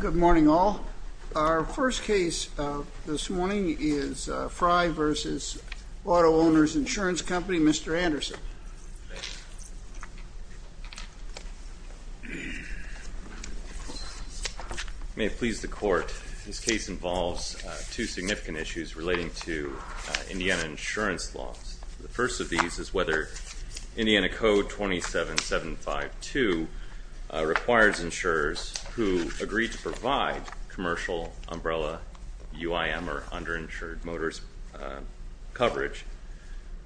Good morning all. Our first case this morning is Frye v. Auto-Owners Insurance Company. Mr. Anderson. May it please the court, this case involves two significant issues relating to Indiana code 27752 requires insurers who agree to provide commercial umbrella UIM or underinsured motorist coverage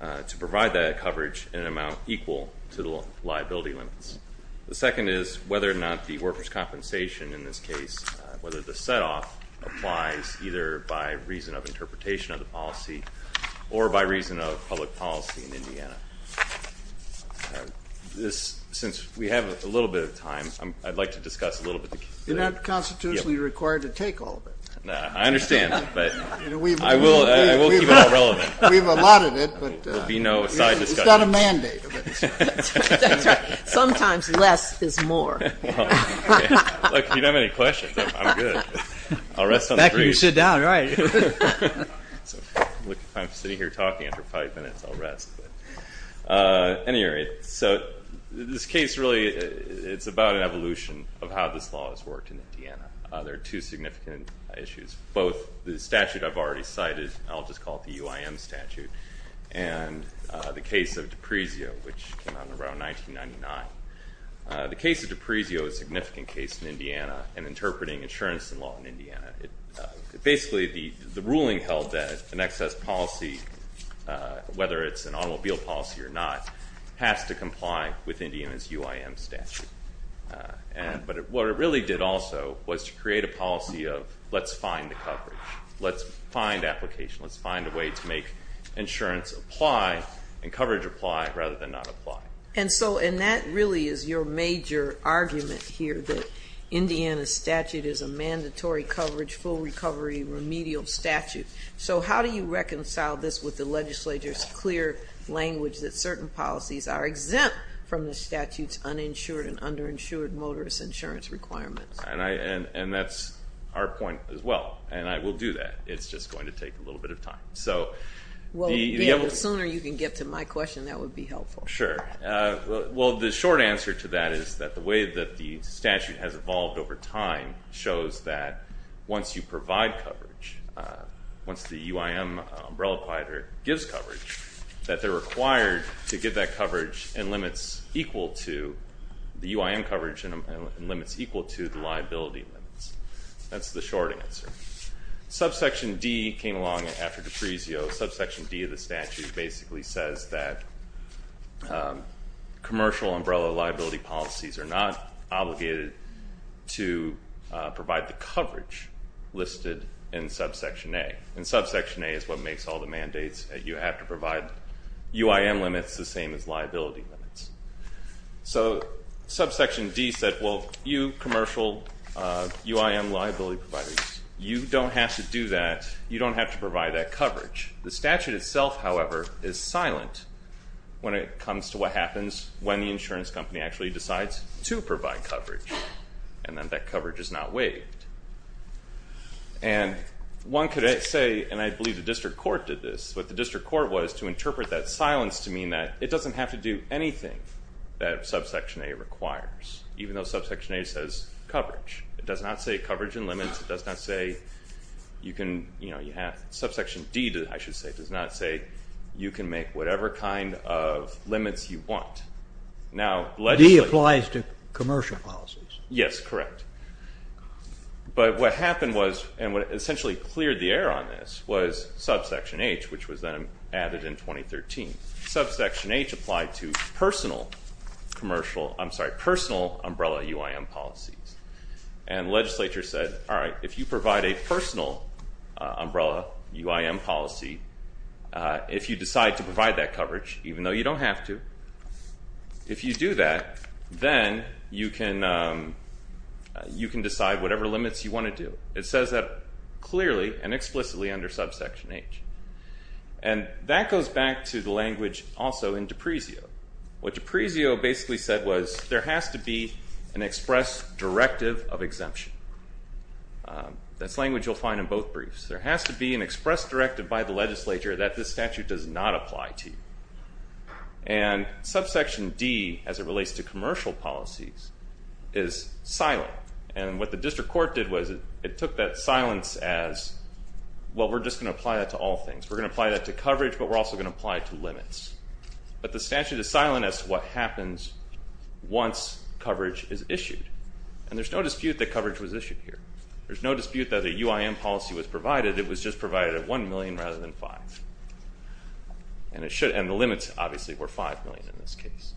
to provide that coverage in an amount equal to the liability limits. The second is whether or not the workers' compensation in this case, whether the set Since we have a little bit of time, I'd like to discuss a little bit of the case. You're not constitutionally required to take all of it. I understand, but I will keep it all relevant. We've allotted it, but it's not a mandate. That's right. Sometimes less is more. If you don't have any questions, I'm good. I'll rest on the grave. Back when you sit down, right. I'm sitting here talking after five minutes, I'll rest. Anyway, so this case really, it's about an evolution of how this law has worked in Indiana. There are two significant issues, both the statute I've already cited, I'll just call it the UIM statute, and the case of Depresio, which came out in around 1999. The case of Depresio is a significant case in Indiana and interpreting insurance in law in Indiana. Basically, the ruling held that an excess policy, whether it's an automobile policy or not, has to comply with Indiana's UIM statute. But what it really did also was to create a policy of let's find the coverage. Let's find application. Let's find a way to make insurance apply and coverage apply rather than not apply. And that really is your major argument here, that Indiana's statute is a mandatory coverage, full recovery, remedial statute. So how do you reconcile this with the legislature's clear language that certain policies are exempt from the statute's uninsured and underinsured motorist insurance requirements? And that's our point as well. And I will do that. It's just going to take a little bit of time. The sooner you can get to my question, that would be helpful. Sure. Well, the short answer to that is that the way that the statute has evolved over time shows that once you provide coverage, once the UIM umbrella provider gives coverage, that they're required to give that coverage in limits equal to the UIM coverage and limits equal to the liability limits. That's the short answer. Subsection D came along after DePrizio. Subsection D of the statute basically says that commercial umbrella liability policies are not obligated to provide the coverage listed in subsection A. And subsection A is what makes all the mandates that you have to provide UIM limits the same as liability limits. So subsection D said, well, you commercial UIM liability providers, you don't have to do that. You don't have to provide that coverage. The statute itself, however, is silent when it comes to what happens when the insurance company actually decides to provide coverage. And then that coverage is not waived. And one could say, and I believe the district court did this, what the district court was to interpret that silence to mean that it doesn't have to do anything that subsection A requires, even though subsection A says coverage. It does not say coverage in limits. It does not say you can, you know, you have, subsection D, I should say, does not say you can make whatever kind of limits you want. Now, legislative. D applies to commercial policies. Yes, correct. But what happened was, and what essentially cleared the air on this, was subsection H, which was then added in 2013. Subsection H applied to personal commercial, I'm sorry, personal umbrella UIM policies. And legislature said, all right, if you provide a personal umbrella UIM policy, if you decide to provide that coverage, even though you don't have to, if you do that, then you can, you can decide whatever limits you want to do. It says that clearly and explicitly under subsection H. And that goes back to the language also in D'Aprezio. What D'Aprezio basically said was, there has to be an express directive of exemption. That's language you'll find in both briefs. There has to be an express directive by the legislature that this statute does not apply to you. And subsection D, as it relates to commercial policies, is silent. And what the district court did was, it took that silence as, well, we're just going to apply that to all things. We're going to apply that to coverage, but we're also going to apply it to limits. But the statute is silent as to what happens once coverage is issued. And there's no dispute that coverage was issued here. There's no dispute that a UIM policy was provided. It was just provided at 1 million rather than 5. And the limits, obviously, were 5 million in this case.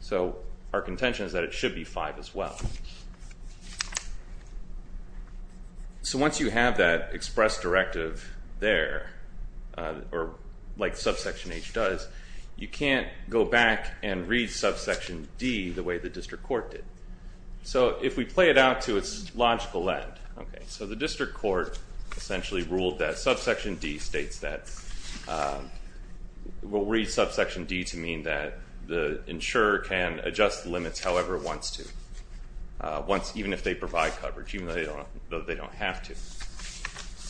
So our contention is that it should be 5 as well. So once you have that express directive there, or like subsection H does, you can't go back and read subsection D the way the district court did. So if we play it out to its logical end, OK, so the district court essentially ruled that subsection D states that, we'll read subsection D to mean that the insurer can adjust the limits however it wants to, even if they provide coverage, even though they don't have to.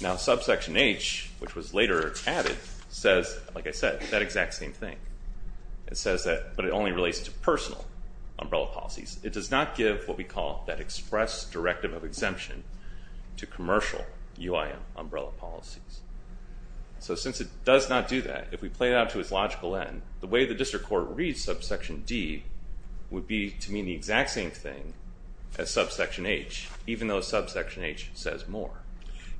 Now subsection H, which was later added, says, like I said, that exact same thing. It says that, but it only relates to personal umbrella policies. It does not give what we call that express directive of exemption to commercial UIM umbrella policies. So since it does not do that, if we play it out to its logical end, the way the district court reads subsection D would be to mean the exact same thing as subsection H, even though subsection H says more.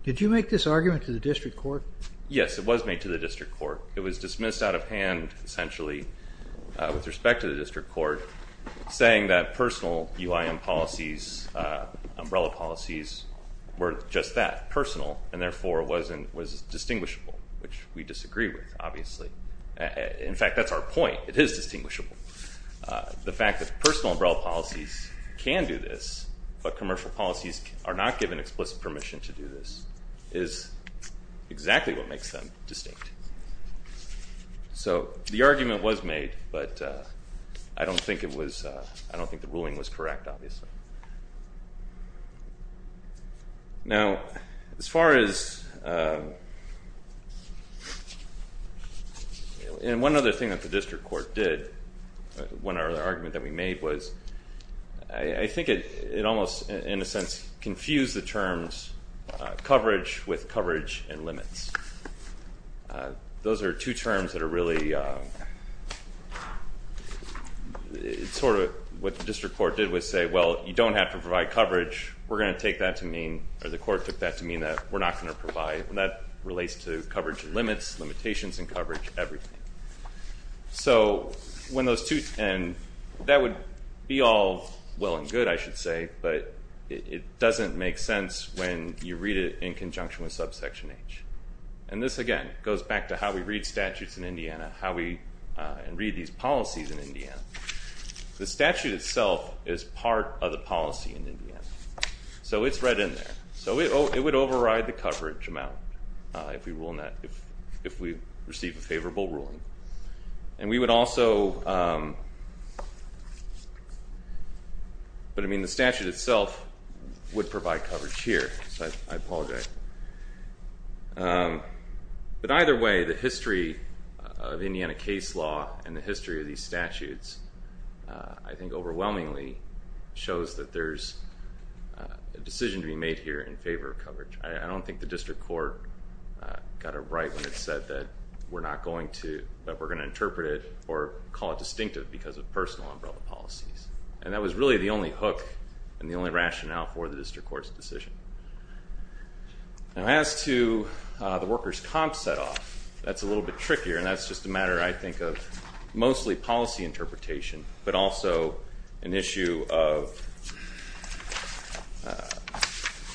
Did you make this argument to the district court? Yes, it was made to the district court. It was dismissed out of hand, essentially, with respect to the district court, saying that personal UIM policies, umbrella policies, were just that, personal, and therefore was distinguishable, which we disagree with, obviously. In fact, that's our point. It is distinguishable. The fact that personal umbrella policies can do this, but commercial policies are not given explicit permission to do this, is exactly what makes them distinct. So the argument was made, but I don't think it was, I don't think the ruling was correct, obviously. Now, as far as, and one other thing that the district court did, one other argument that we made was, I think it almost, in a sense, confused the terms coverage with coverage and limits. Those are two terms that are really, sort of what the district court did was say, well, you don't have to provide coverage, we're going to take that to mean, or the court took that to mean, that we're not going to provide, and that relates to coverage limits, limitations in coverage, everything. So, when those two, and that would be all well and good, I should say, but it doesn't make sense when you read it in conjunction with subsection H. And this, again, goes back to how we read statutes in Indiana, how we read these policies in Indiana. The statute itself is part of the policy in Indiana. So it's read in there. So it would override the coverage amount, if we receive a favorable ruling. And we would also, but I mean, the statute itself would provide coverage here, so I apologize. Okay. But either way, the history of Indiana case law, and the history of these statutes, I think overwhelmingly shows that there's a decision to be made here in favor of coverage. I don't think the district court got it right when it said that we're not going to, that we're going to interpret it, or call it distinctive because of personal umbrella policies. And that was really the only hook, and the only rationale for the district court's decision. Now as to the workers' comp set-off, that's a little bit trickier, and that's just a matter, I think, of mostly policy interpretation, but also an issue of,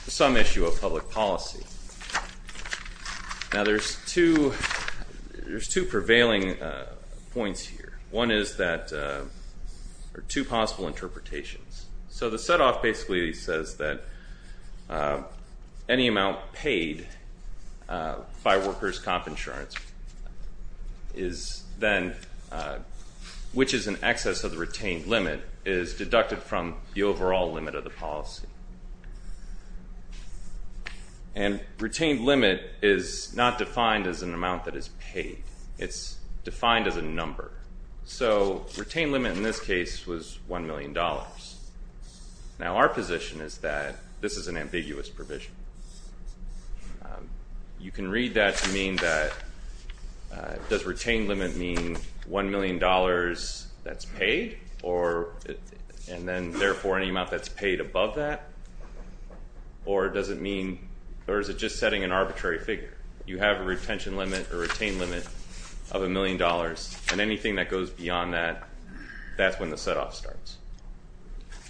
some issue of public policy. Now there's two, there's two prevailing points here. One is that, or two possible interpretations. So the set-off basically says that any amount paid by workers' comp insurance is then, which is in excess of the retained limit, is deducted from the overall limit of the policy. And retained limit is not defined as an amount that is paid. It's defined as a number. So retained limit in this case was $1 million. Now our position is that this is an ambiguous provision. You can read that to mean that, does retained limit mean $1 million that's paid, or, and then therefore any amount that's paid above that? Or does it mean, or is it just setting an arbitrary figure? You have a retention limit, or retained limit, of $1 million, and anything that goes beyond that, that's when the set-off starts.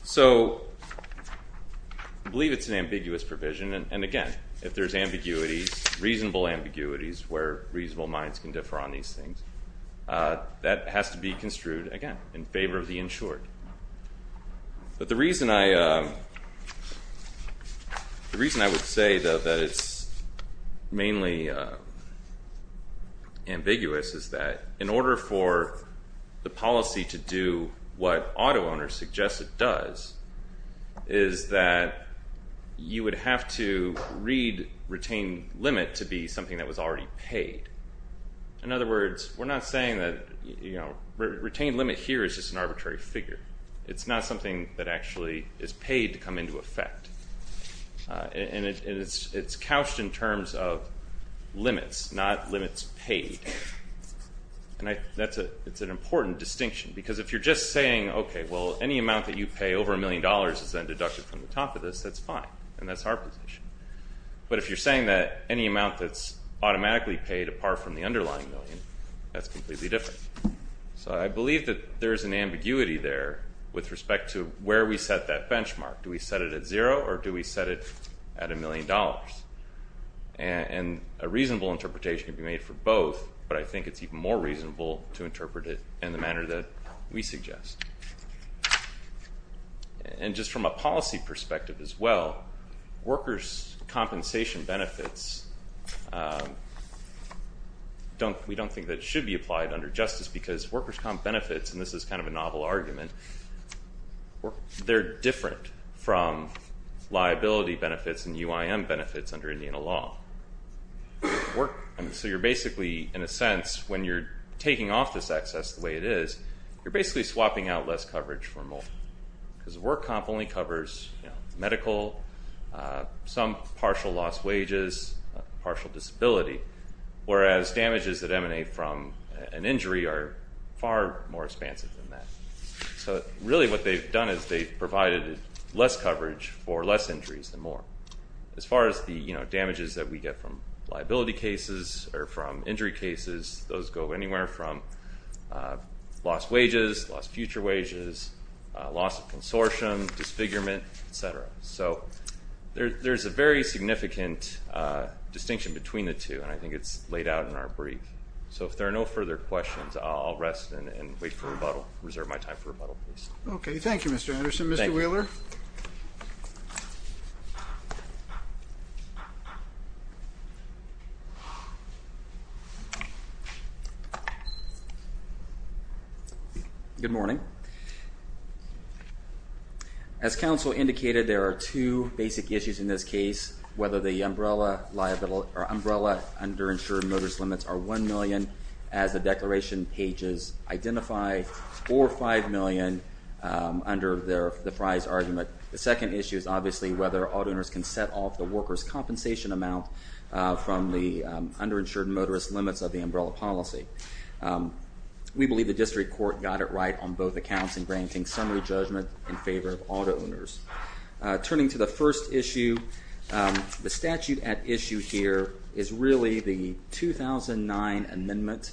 So, I believe it's an ambiguous provision, and again, if there's ambiguities, reasonable ambiguities where reasonable minds can differ on these things, that has to be construed, again, in favor of the insured. But the reason I, the reason I would say that it's mainly ambiguous is that, in order for the policy to do what auto owners suggest it does, is that you would have to read retained limit to be something that was already paid. In other words, we're not saying that, retained limit here is just an arbitrary figure. It's not something that actually is paid to come into effect. And it's couched in terms of limits, not limits paid. And that's an important distinction, because if you're just saying, okay, well, any amount that you pay over $1 million is then deducted from the top of this, that's fine. And that's our position. But if you're saying that any amount that's automatically paid apart from the underlying million, that's completely different. So I believe that there's an ambiguity there with respect to where we set that benchmark. Do we set it at zero, or do we set it at $1 million? And a reasonable interpretation can be made for both, but I think it's even more reasonable to interpret it in the manner that we suggest. And just from a policy perspective as well, workers' compensation benefits we don't think that should be applied under justice because workers' comp benefits, and this is kind of a novel argument, they're different from liability benefits and UIM benefits under Indiana law. So you're basically, in a sense, when you're taking off this excess the way it is, you're basically swapping out less coverage for more. Because a work comp only covers medical, some partial loss wages, partial disability, whereas damages that emanate from an injury are far more expansive than that. So really what they've done is they've provided less coverage for less injuries than more. As far as the damages that we get from liability cases, or from injury cases, those go anywhere from lost wages, lost future wages, loss of consortium, disfigurement, etc. So there's a very significant distinction between the two, and I think it's laid out in our brief. So if there are no further questions, I'll rest and wait for rebuttal. Reserve my time for rebuttal, please. Thank you, Mr. Anderson. Mr. Wheeler? Good morning. As council indicated, there are two basic issues in this case, whether the umbrella under insured motorist limits are $1 million, as the declaration pages identify, or $5 million, under the prize argument. The second issue is obviously whether auto owners can set off the workers' compensation amount from the under insured motorist limits of the umbrella policy. We believe the district court got it right on both accounts in granting summary judgment in favor of auto owners. Turning to the first issue, the statute at issue here is really the 2009 amendment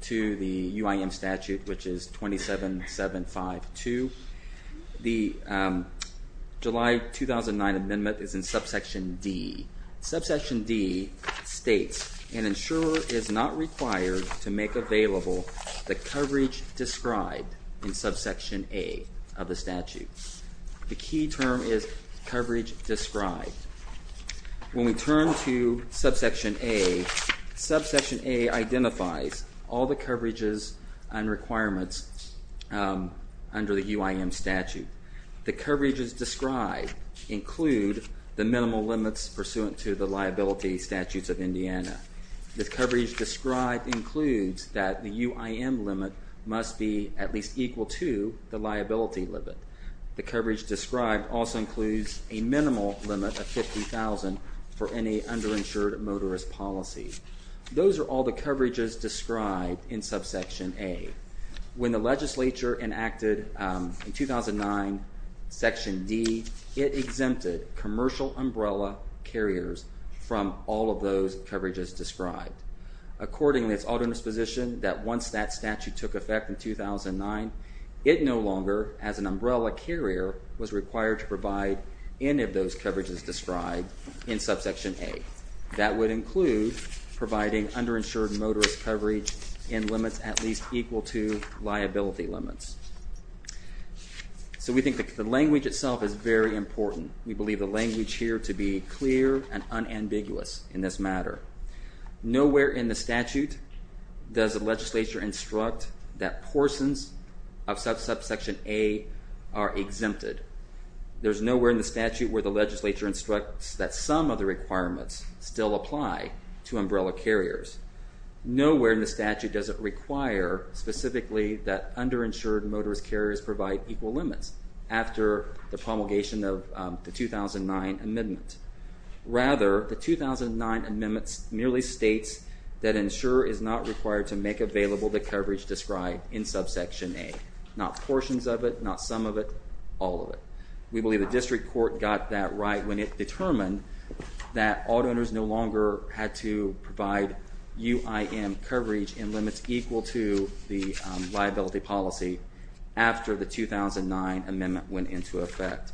to the UIM statute, which is 27752. The July 2009 amendment is in subsection D. Subsection D states an insurer is not required to make available the coverage described in subsection A of the statute. The key term is coverage described. When we turn to subsection A, subsection A identifies all the coverages and requirements under the UIM statute. The coverages described include the minimal limits pursuant to the liability statutes of Indiana. The coverage described includes that the UIM limit must be at least equal to the liability limit. The coverage described also includes a minimal limit of $50,000 for any underinsured motorist policy. Those are all the coverages described in subsection A. When the legislature enacted in 2009 section D, it exempted commercial umbrella carriers from all of those coverages described. According to its autonomous position, that once that statute took effect in 2009, it no longer, as an umbrella carrier, was required to provide any of those coverages described in subsection A. That would include providing underinsured motorist coverage in limits at least equal to liability limits. So we think the language itself is very important. We believe the language here to be clear and unambiguous in this matter. Nowhere in the statute does the legislature instruct that portions of subsection A are exempted. There's nowhere in the statute that states that some of the requirements still apply to umbrella carriers. Nowhere in the statute does it require specifically that underinsured motorist carriers provide equal limits after the promulgation of the 2009 amendment. Rather, the 2009 amendment merely states that insurer is not required to make available the coverage described in subsection A. Not portions of it, not some of it, all of it. We believe the district court got that right when it determined that auto owners no longer had to provide UIM coverage in limits equal to the liability policy after the 2009 amendment went into effect.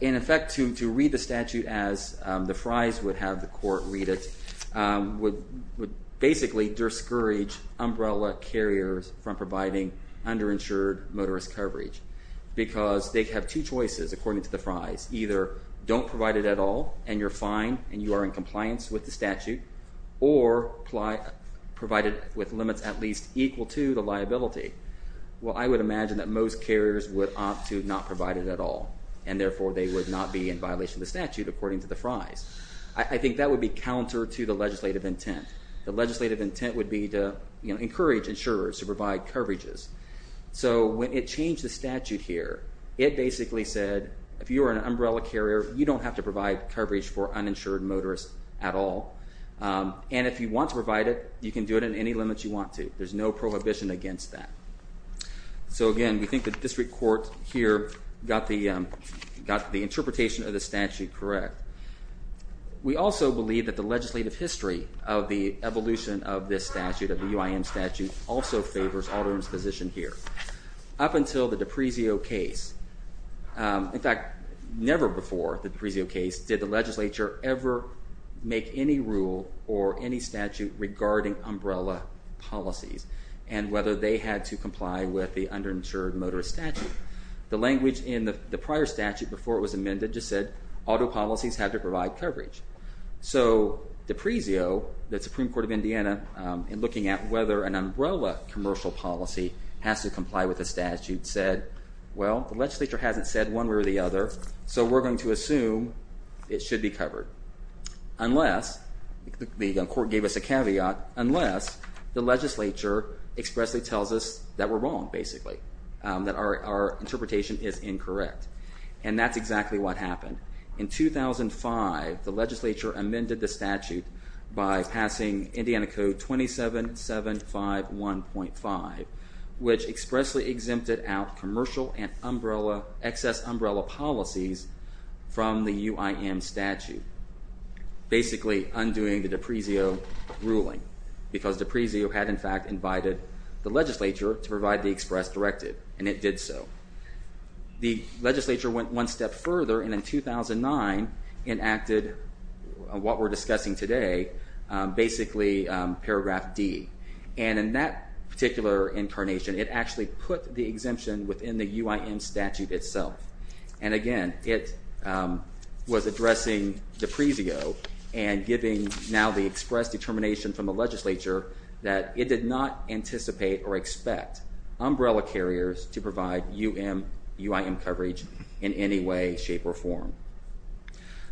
In effect, to read the statute as the Fries would have the court read it, would basically discourage umbrella carriers from providing underinsured motorist coverage because they have two choices according to the Fries. Either don't provide it at all and you're fine and you are in compliance with the statute or provide it with limits at least equal to the liability. I would imagine that most carriers would opt to not provide it at all and therefore they would not be in violation of the statute according to the Fries. I think that would be counter to the legislative intent. The legislative intent would be to encourage insurers to provide coverages. So when it changed the statute here, it basically said if you are an umbrella carrier, you don't have to provide coverage for uninsured motorist at all. And if you want to provide it, you can do it in any limits you want to. There's no prohibition against that. So again, we think the district court here got the correct. We also believe that the legislative history of the evolution of this statute, of the patterns positioned here, up until the DiPrezio case. In fact, never before the DiPrezio case did the legislature ever make any rule or any statute regarding umbrella policies and whether they had to comply with the underinsured motorist statute. The language in the prior statute before it was amended just said auto policies had to provide coverage. So DiPrezio, the Supreme Court of Indiana, in looking at whether an umbrella commercial policy has to comply with the statute, said, well, the legislature hasn't said one way or the other, so we're going to assume it should be covered. Unless, the court gave us a caveat, unless the legislature expressly tells us that we're wrong, basically. That our interpretation is incorrect. And that's exactly what happened. In 2005, the legislature amended the statute by passing Indiana Code 27751.5, which expressly exempted out commercial and excess umbrella policies from the UIM statute. Basically, undoing the DiPrezio ruling. Because DiPrezio had, in fact, invited the legislature to provide the express directive, and it did so. The legislature went one step further, and in 2009, enacted what we're currently, paragraph D. And in that particular incarnation, it actually put the exemption within the UIM statute itself. And again, it was addressing DiPrezio and giving now the express determination from the legislature that it did not anticipate or expect umbrella carriers to provide UIM coverage in any way, shape, or form.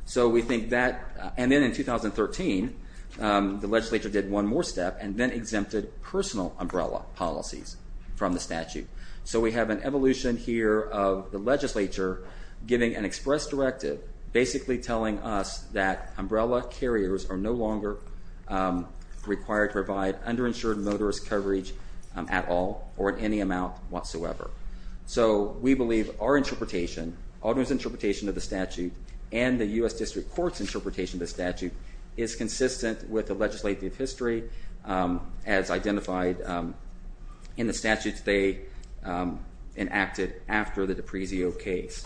So we think that, and then in 2013, the legislature did one more step and then exempted personal umbrella policies from the statute. So we have an evolution here of the legislature giving an express directive basically telling us that umbrella carriers are no longer required to provide underinsured motorist coverage at all, or at any amount whatsoever. So we believe our interpretation, Alderman's interpretation of the statute, and the U.S. District Court's interpretation of the statute is consistent with the legislative history as identified in the statutes they enacted after the DiPrezio case.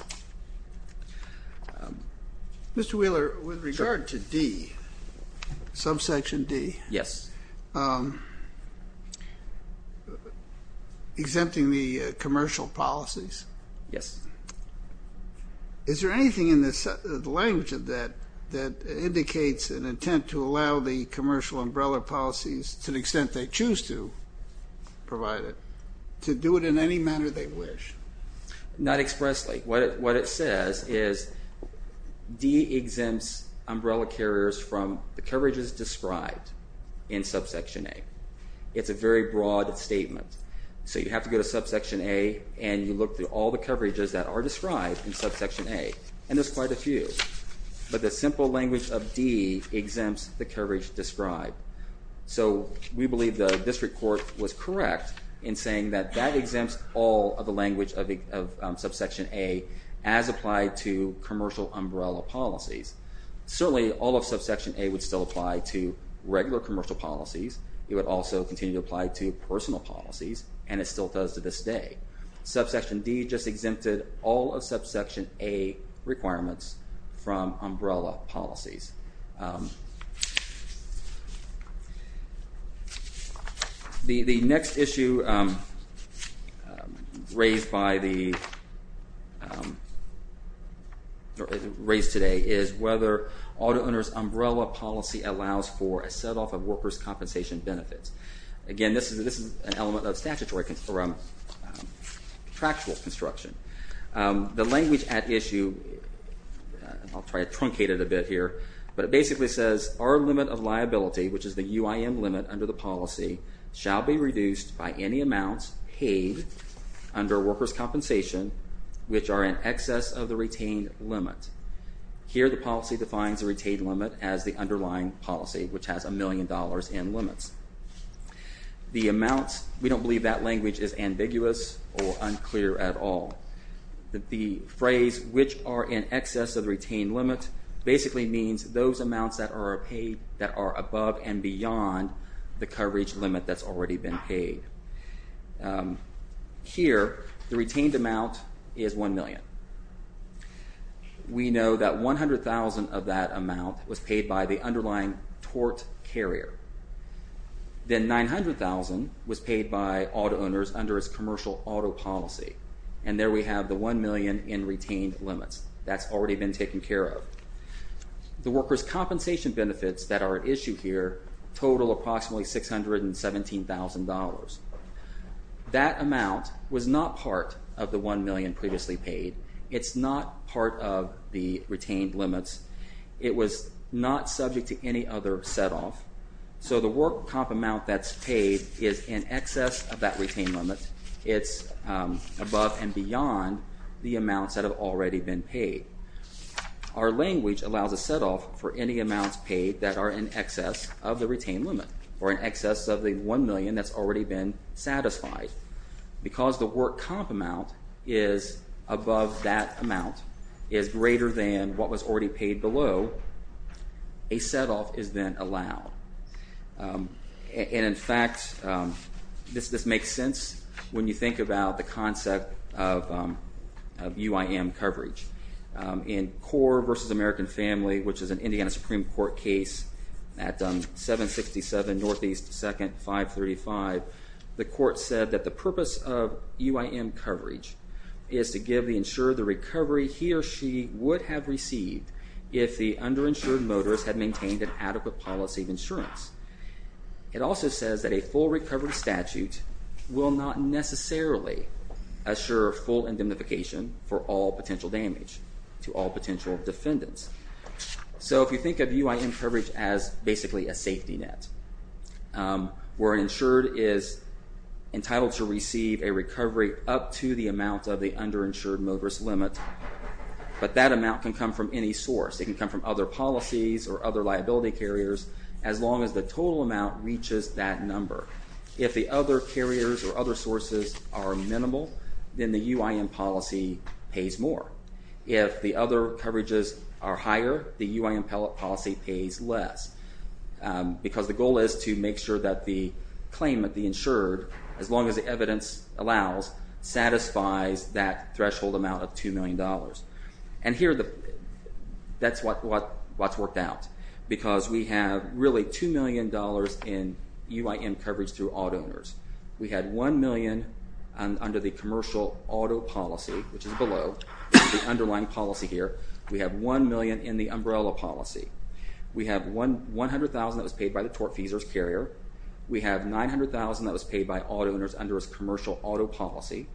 Mr. Wheeler, with regard to D, subsection D, exempting the commercial policies, is there anything in the language of that that indicates an intent to allow the commercial umbrella policies, to the extent they choose to provide it, to do it in any manner they wish? Not expressly. What it says is D exempts umbrella carriers from the coverages described in subsection A. It's a very broad statement. So you have to go to subsection A and you look through all the coverages that are described in subsection A, and there's quite a few. But the simple language of D exempts the coverage described. So we believe the district court was correct in saying that that exempts all of the language of subsection A as applied to commercial umbrella policies. Certainly all of subsection A would still apply to regular commercial policies. It would also continue to apply to personal policies, and it still does to this day. Subsection D just exempted all of subsection A requirements from umbrella policies. The next issue raised by the raised today is whether auto owner's umbrella policy allows for a set off of workers' compensation benefits. Again, this is an element of statutory contractual construction. The language at issue I'll try to truncate it a bit here, but it basically says our limit of liability, which is the UIM limit under the policy, shall be reduced by any amounts paid under workers' compensation which are in excess of the retained limit. Here the policy defines the retained limit as the underlying policy, which has a million dollars in limits. The amounts, we don't believe that language is ambiguous or unclear at all. The phrase, which are in excess of the retained limit, basically means those amounts that are above and beyond the coverage limit that's already been paid. Here, We know that 100,000 of that amount was paid by the underlying tort carrier. Then 900,000 was paid by auto owners under its commercial auto policy. And there we have the one million in retained limits. That's already been taken care of. The workers' compensation benefits that are at issue here total approximately $617,000. That amount was not part of the one million previously paid. It's not part of the retained limits. It was not subject to any other set off. So the work comp amount that's paid is in excess of that retained limit. It's above and beyond the amounts that have already been paid. Our language allows a set off for any amounts paid that are in excess of the retained limit, or in excess of the one million that's already been satisfied. Because the work comp amount is above that amount, is greater than what was already paid below, a set off is then allowed. And in fact this makes sense when you think about the concept of UIM coverage. In Core v. American Family, which is an Indiana Supreme Court case at 767 Northeast 2nd 535, the court said that the purpose of UIM coverage is to give the insured the recovery he or she would have received if the underinsured motorist had maintained an adequate policy of insurance. It also says that a full recovery statute will not necessarily assure full indemnification for all potential damage to all potential defendants. So if you think of UIM coverage as basically a safety net where an insured is entitled to a recovery up to the amount of the underinsured motorist limit, but that amount can come from any source. It can come from other policies or other liability carriers, as long as the total amount reaches that number. If the other carriers or other sources are minimal, then the UIM policy pays more. If the other coverages are higher, the UIM policy pays less. Because the goal is to make sure that the claimant, the insured, as long as the evidence allows, satisfies that threshold amount of $2 million. And here that's what's worked out. Because we have really $2 million in UIM coverage through auto owners. We had $1 million under the commercial auto policy, which is below the underlying policy here. We have $1 million in the umbrella policy. We have $100,000 that was paid by the tortfeasors carrier. We have $900,000 that was paid by auto owners under its commercial auto policy,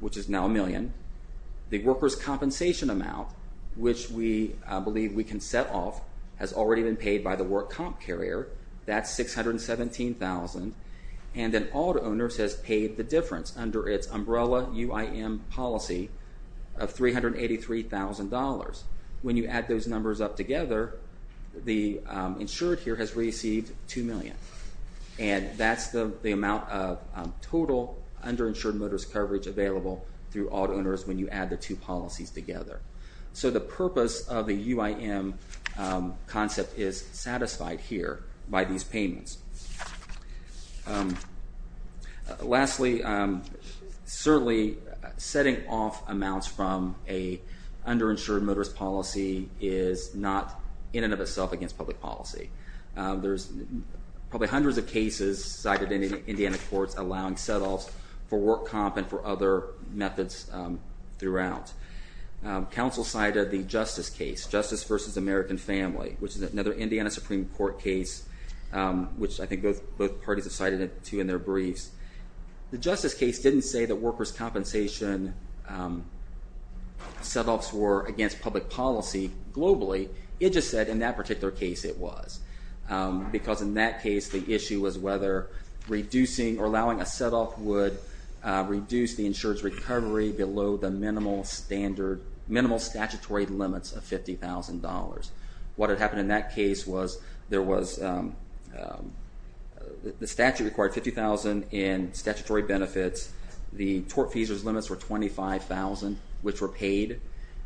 which is now $1 million. The workers' compensation amount, which we believe we can set off, has already been paid by the work comp carrier. That's $617,000. And then auto owners has paid the difference under its umbrella UIM policy of $383,000. When you add those numbers up together, the insured here has received $2 million. And that's the amount of total underinsured motorist coverage available through auto owners when you add the two policies together. So the purpose of the UIM concept is satisfied here by these payments. Lastly, certainly setting off amounts from an underinsured motorist policy is not in and of itself against public policy. There's probably hundreds of cases cited in the Indiana courts allowing set-offs for work comp and for other methods throughout. Council cited the Justice case, Justice v. American Family, which is another Indiana Supreme Court case, which I think both parties have cited it to in their briefs. The Justice case didn't say that workers' compensation set-offs were against public policy globally. It just said in that particular case it was. Because in that case, the issue was whether reducing or allowing a set-off would reduce the insured's recovery below the minimal statutory limits of $50,000. What had happened in that case was there was the statute required $50,000 in statutory benefits. The tort fees' limits were $25,000, which were paid.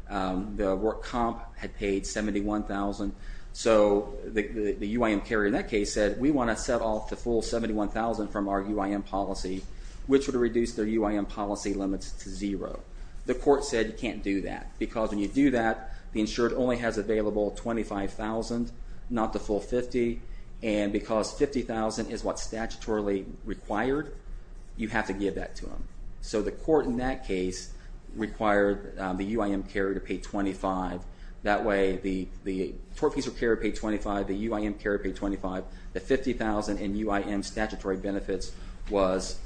The work comp had paid $71,000. The UIM carrier in that case said, we want to set-off the full $71,000 from our UIM policy, which would reduce their UIM policy limits to zero. The court said you can't do that because when you do that, the insured only has available $25,000, not the full $50,000. Because $50,000 is what's statutorily required, you have to give that to them. The court in that case required the UIM carrier to pay $25,000. That way the tort fees' carrier paid $25,000, the UIM carrier paid $25,000, the $50,000 in UIM statutory benefits was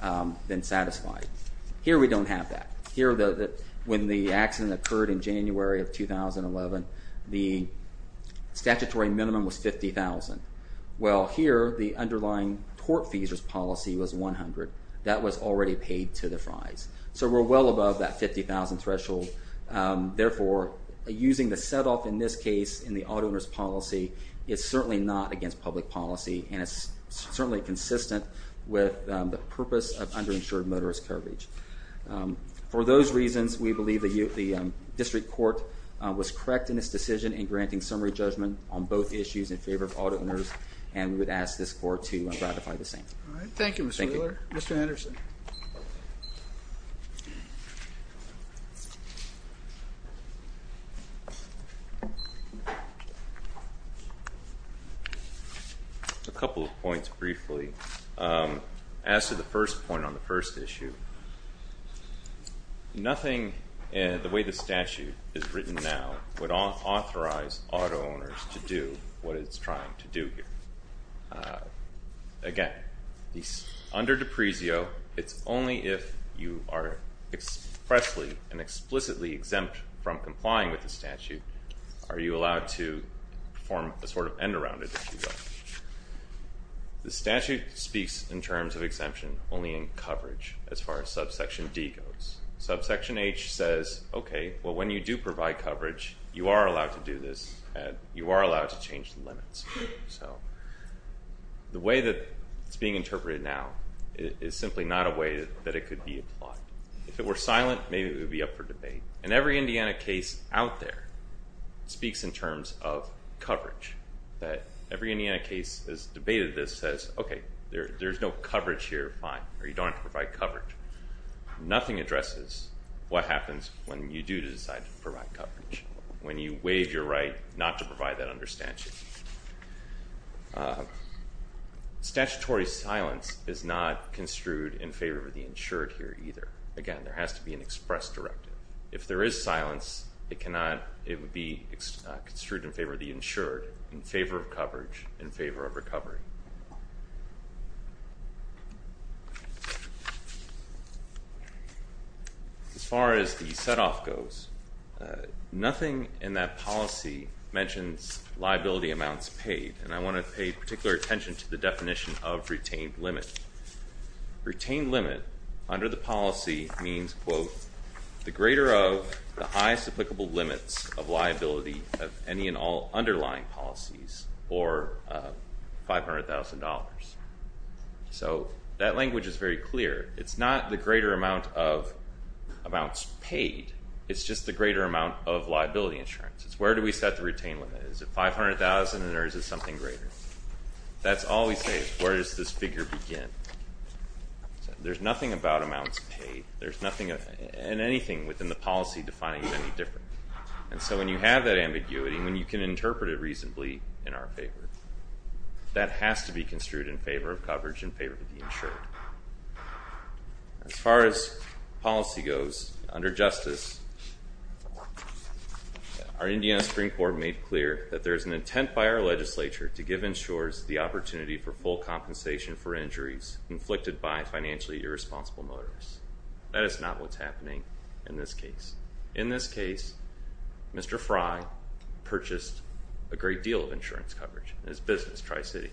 then satisfied. Here we don't have that. Here, when the accident occurred in January of 2011, the statutory minimum was $50,000. Well, here, the underlying tort fees' policy was $100,000. That was already paid to the $50,000 threshold. Therefore, using the set-off in this case in the auto owner's policy is certainly not against public policy and it's certainly consistent with the purpose of underinsured motorist coverage. For those reasons, we believe the district court was correct in its decision in granting summary judgment on both issues in favor of auto owners and we would ask this court to ratify the same. Thank you, Mr. Wheeler. Mr. Anderson. Thank you. A couple of points briefly. As to the first point on the first issue, nothing in the way the statute is written now would authorize auto owners to do what it's trying to do here. Again, under D'Aprezio, it's only if you are expressly and explicitly exempt from complying with the statute are you allowed to form a sort of end around it. The statute speaks in terms of exemption only in coverage as far as subsection D goes. Subsection H says, okay, when you do provide coverage, you are allowed to do this and you are allowed to change the limits. The way that it's being interpreted now is simply not a way that it could be applied. If it were silent, maybe it would be up for debate. And every Indiana case out there speaks in terms of coverage. Every Indiana case has debated this, says, okay, there's no coverage here, fine, or you don't have to provide coverage. Nothing addresses what happens when you do decide to provide coverage. When you waive your right not to provide that under statute. Statutory silence is not construed in favor of the insured here either. Again, there has to be an express directive. If there is silence, it cannot, it would be construed in favor of the insured, in favor of coverage, in favor of recovery. As far as the set off goes, nothing in that policy mentions liability amounts paid. And I want to pay particular attention to the definition of retained limit. Retained limit under the policy means, quote, the greater of the highest applicable limits of liability of any and all underlying policies, or $500,000. So, that language is very clear. It's not the greater amount of amounts paid. It's just the greater amount of retained limit. Is it $500,000 or is it something greater? That's all we say. Where does this figure begin? There's nothing about amounts paid. There's nothing in anything within the policy defining it any different. And so, when you have that ambiguity, when you can interpret it reasonably in our favor, that has to be construed in favor of coverage, in favor of the insured. As far as policy goes, under justice, our Indiana Supreme Court made clear that there's an intent by our legislature to give insurers the opportunity for full compensation for injuries inflicted by financially irresponsible motorists. That is not what's happening in this case. In this case, Mr. Fry purchased a great deal of insurance coverage in his business, Tri-City.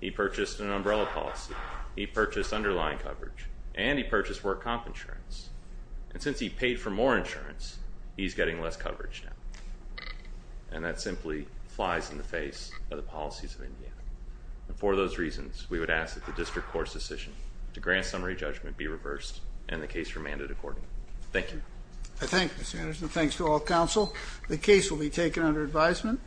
He purchased an umbrella policy. He purchased underlying coverage. And he purchased work comp insurance. And since he paid for more insurance, he's getting less coverage now. And that simply flies in the face of the policies of Indiana. And for those reasons, we would ask that the district court's decision to grant summary judgment be reversed and the case remanded accordingly. Thank you. I thank you, Mr. Anderson. Thanks to all counsel. The case will be taken under advisement.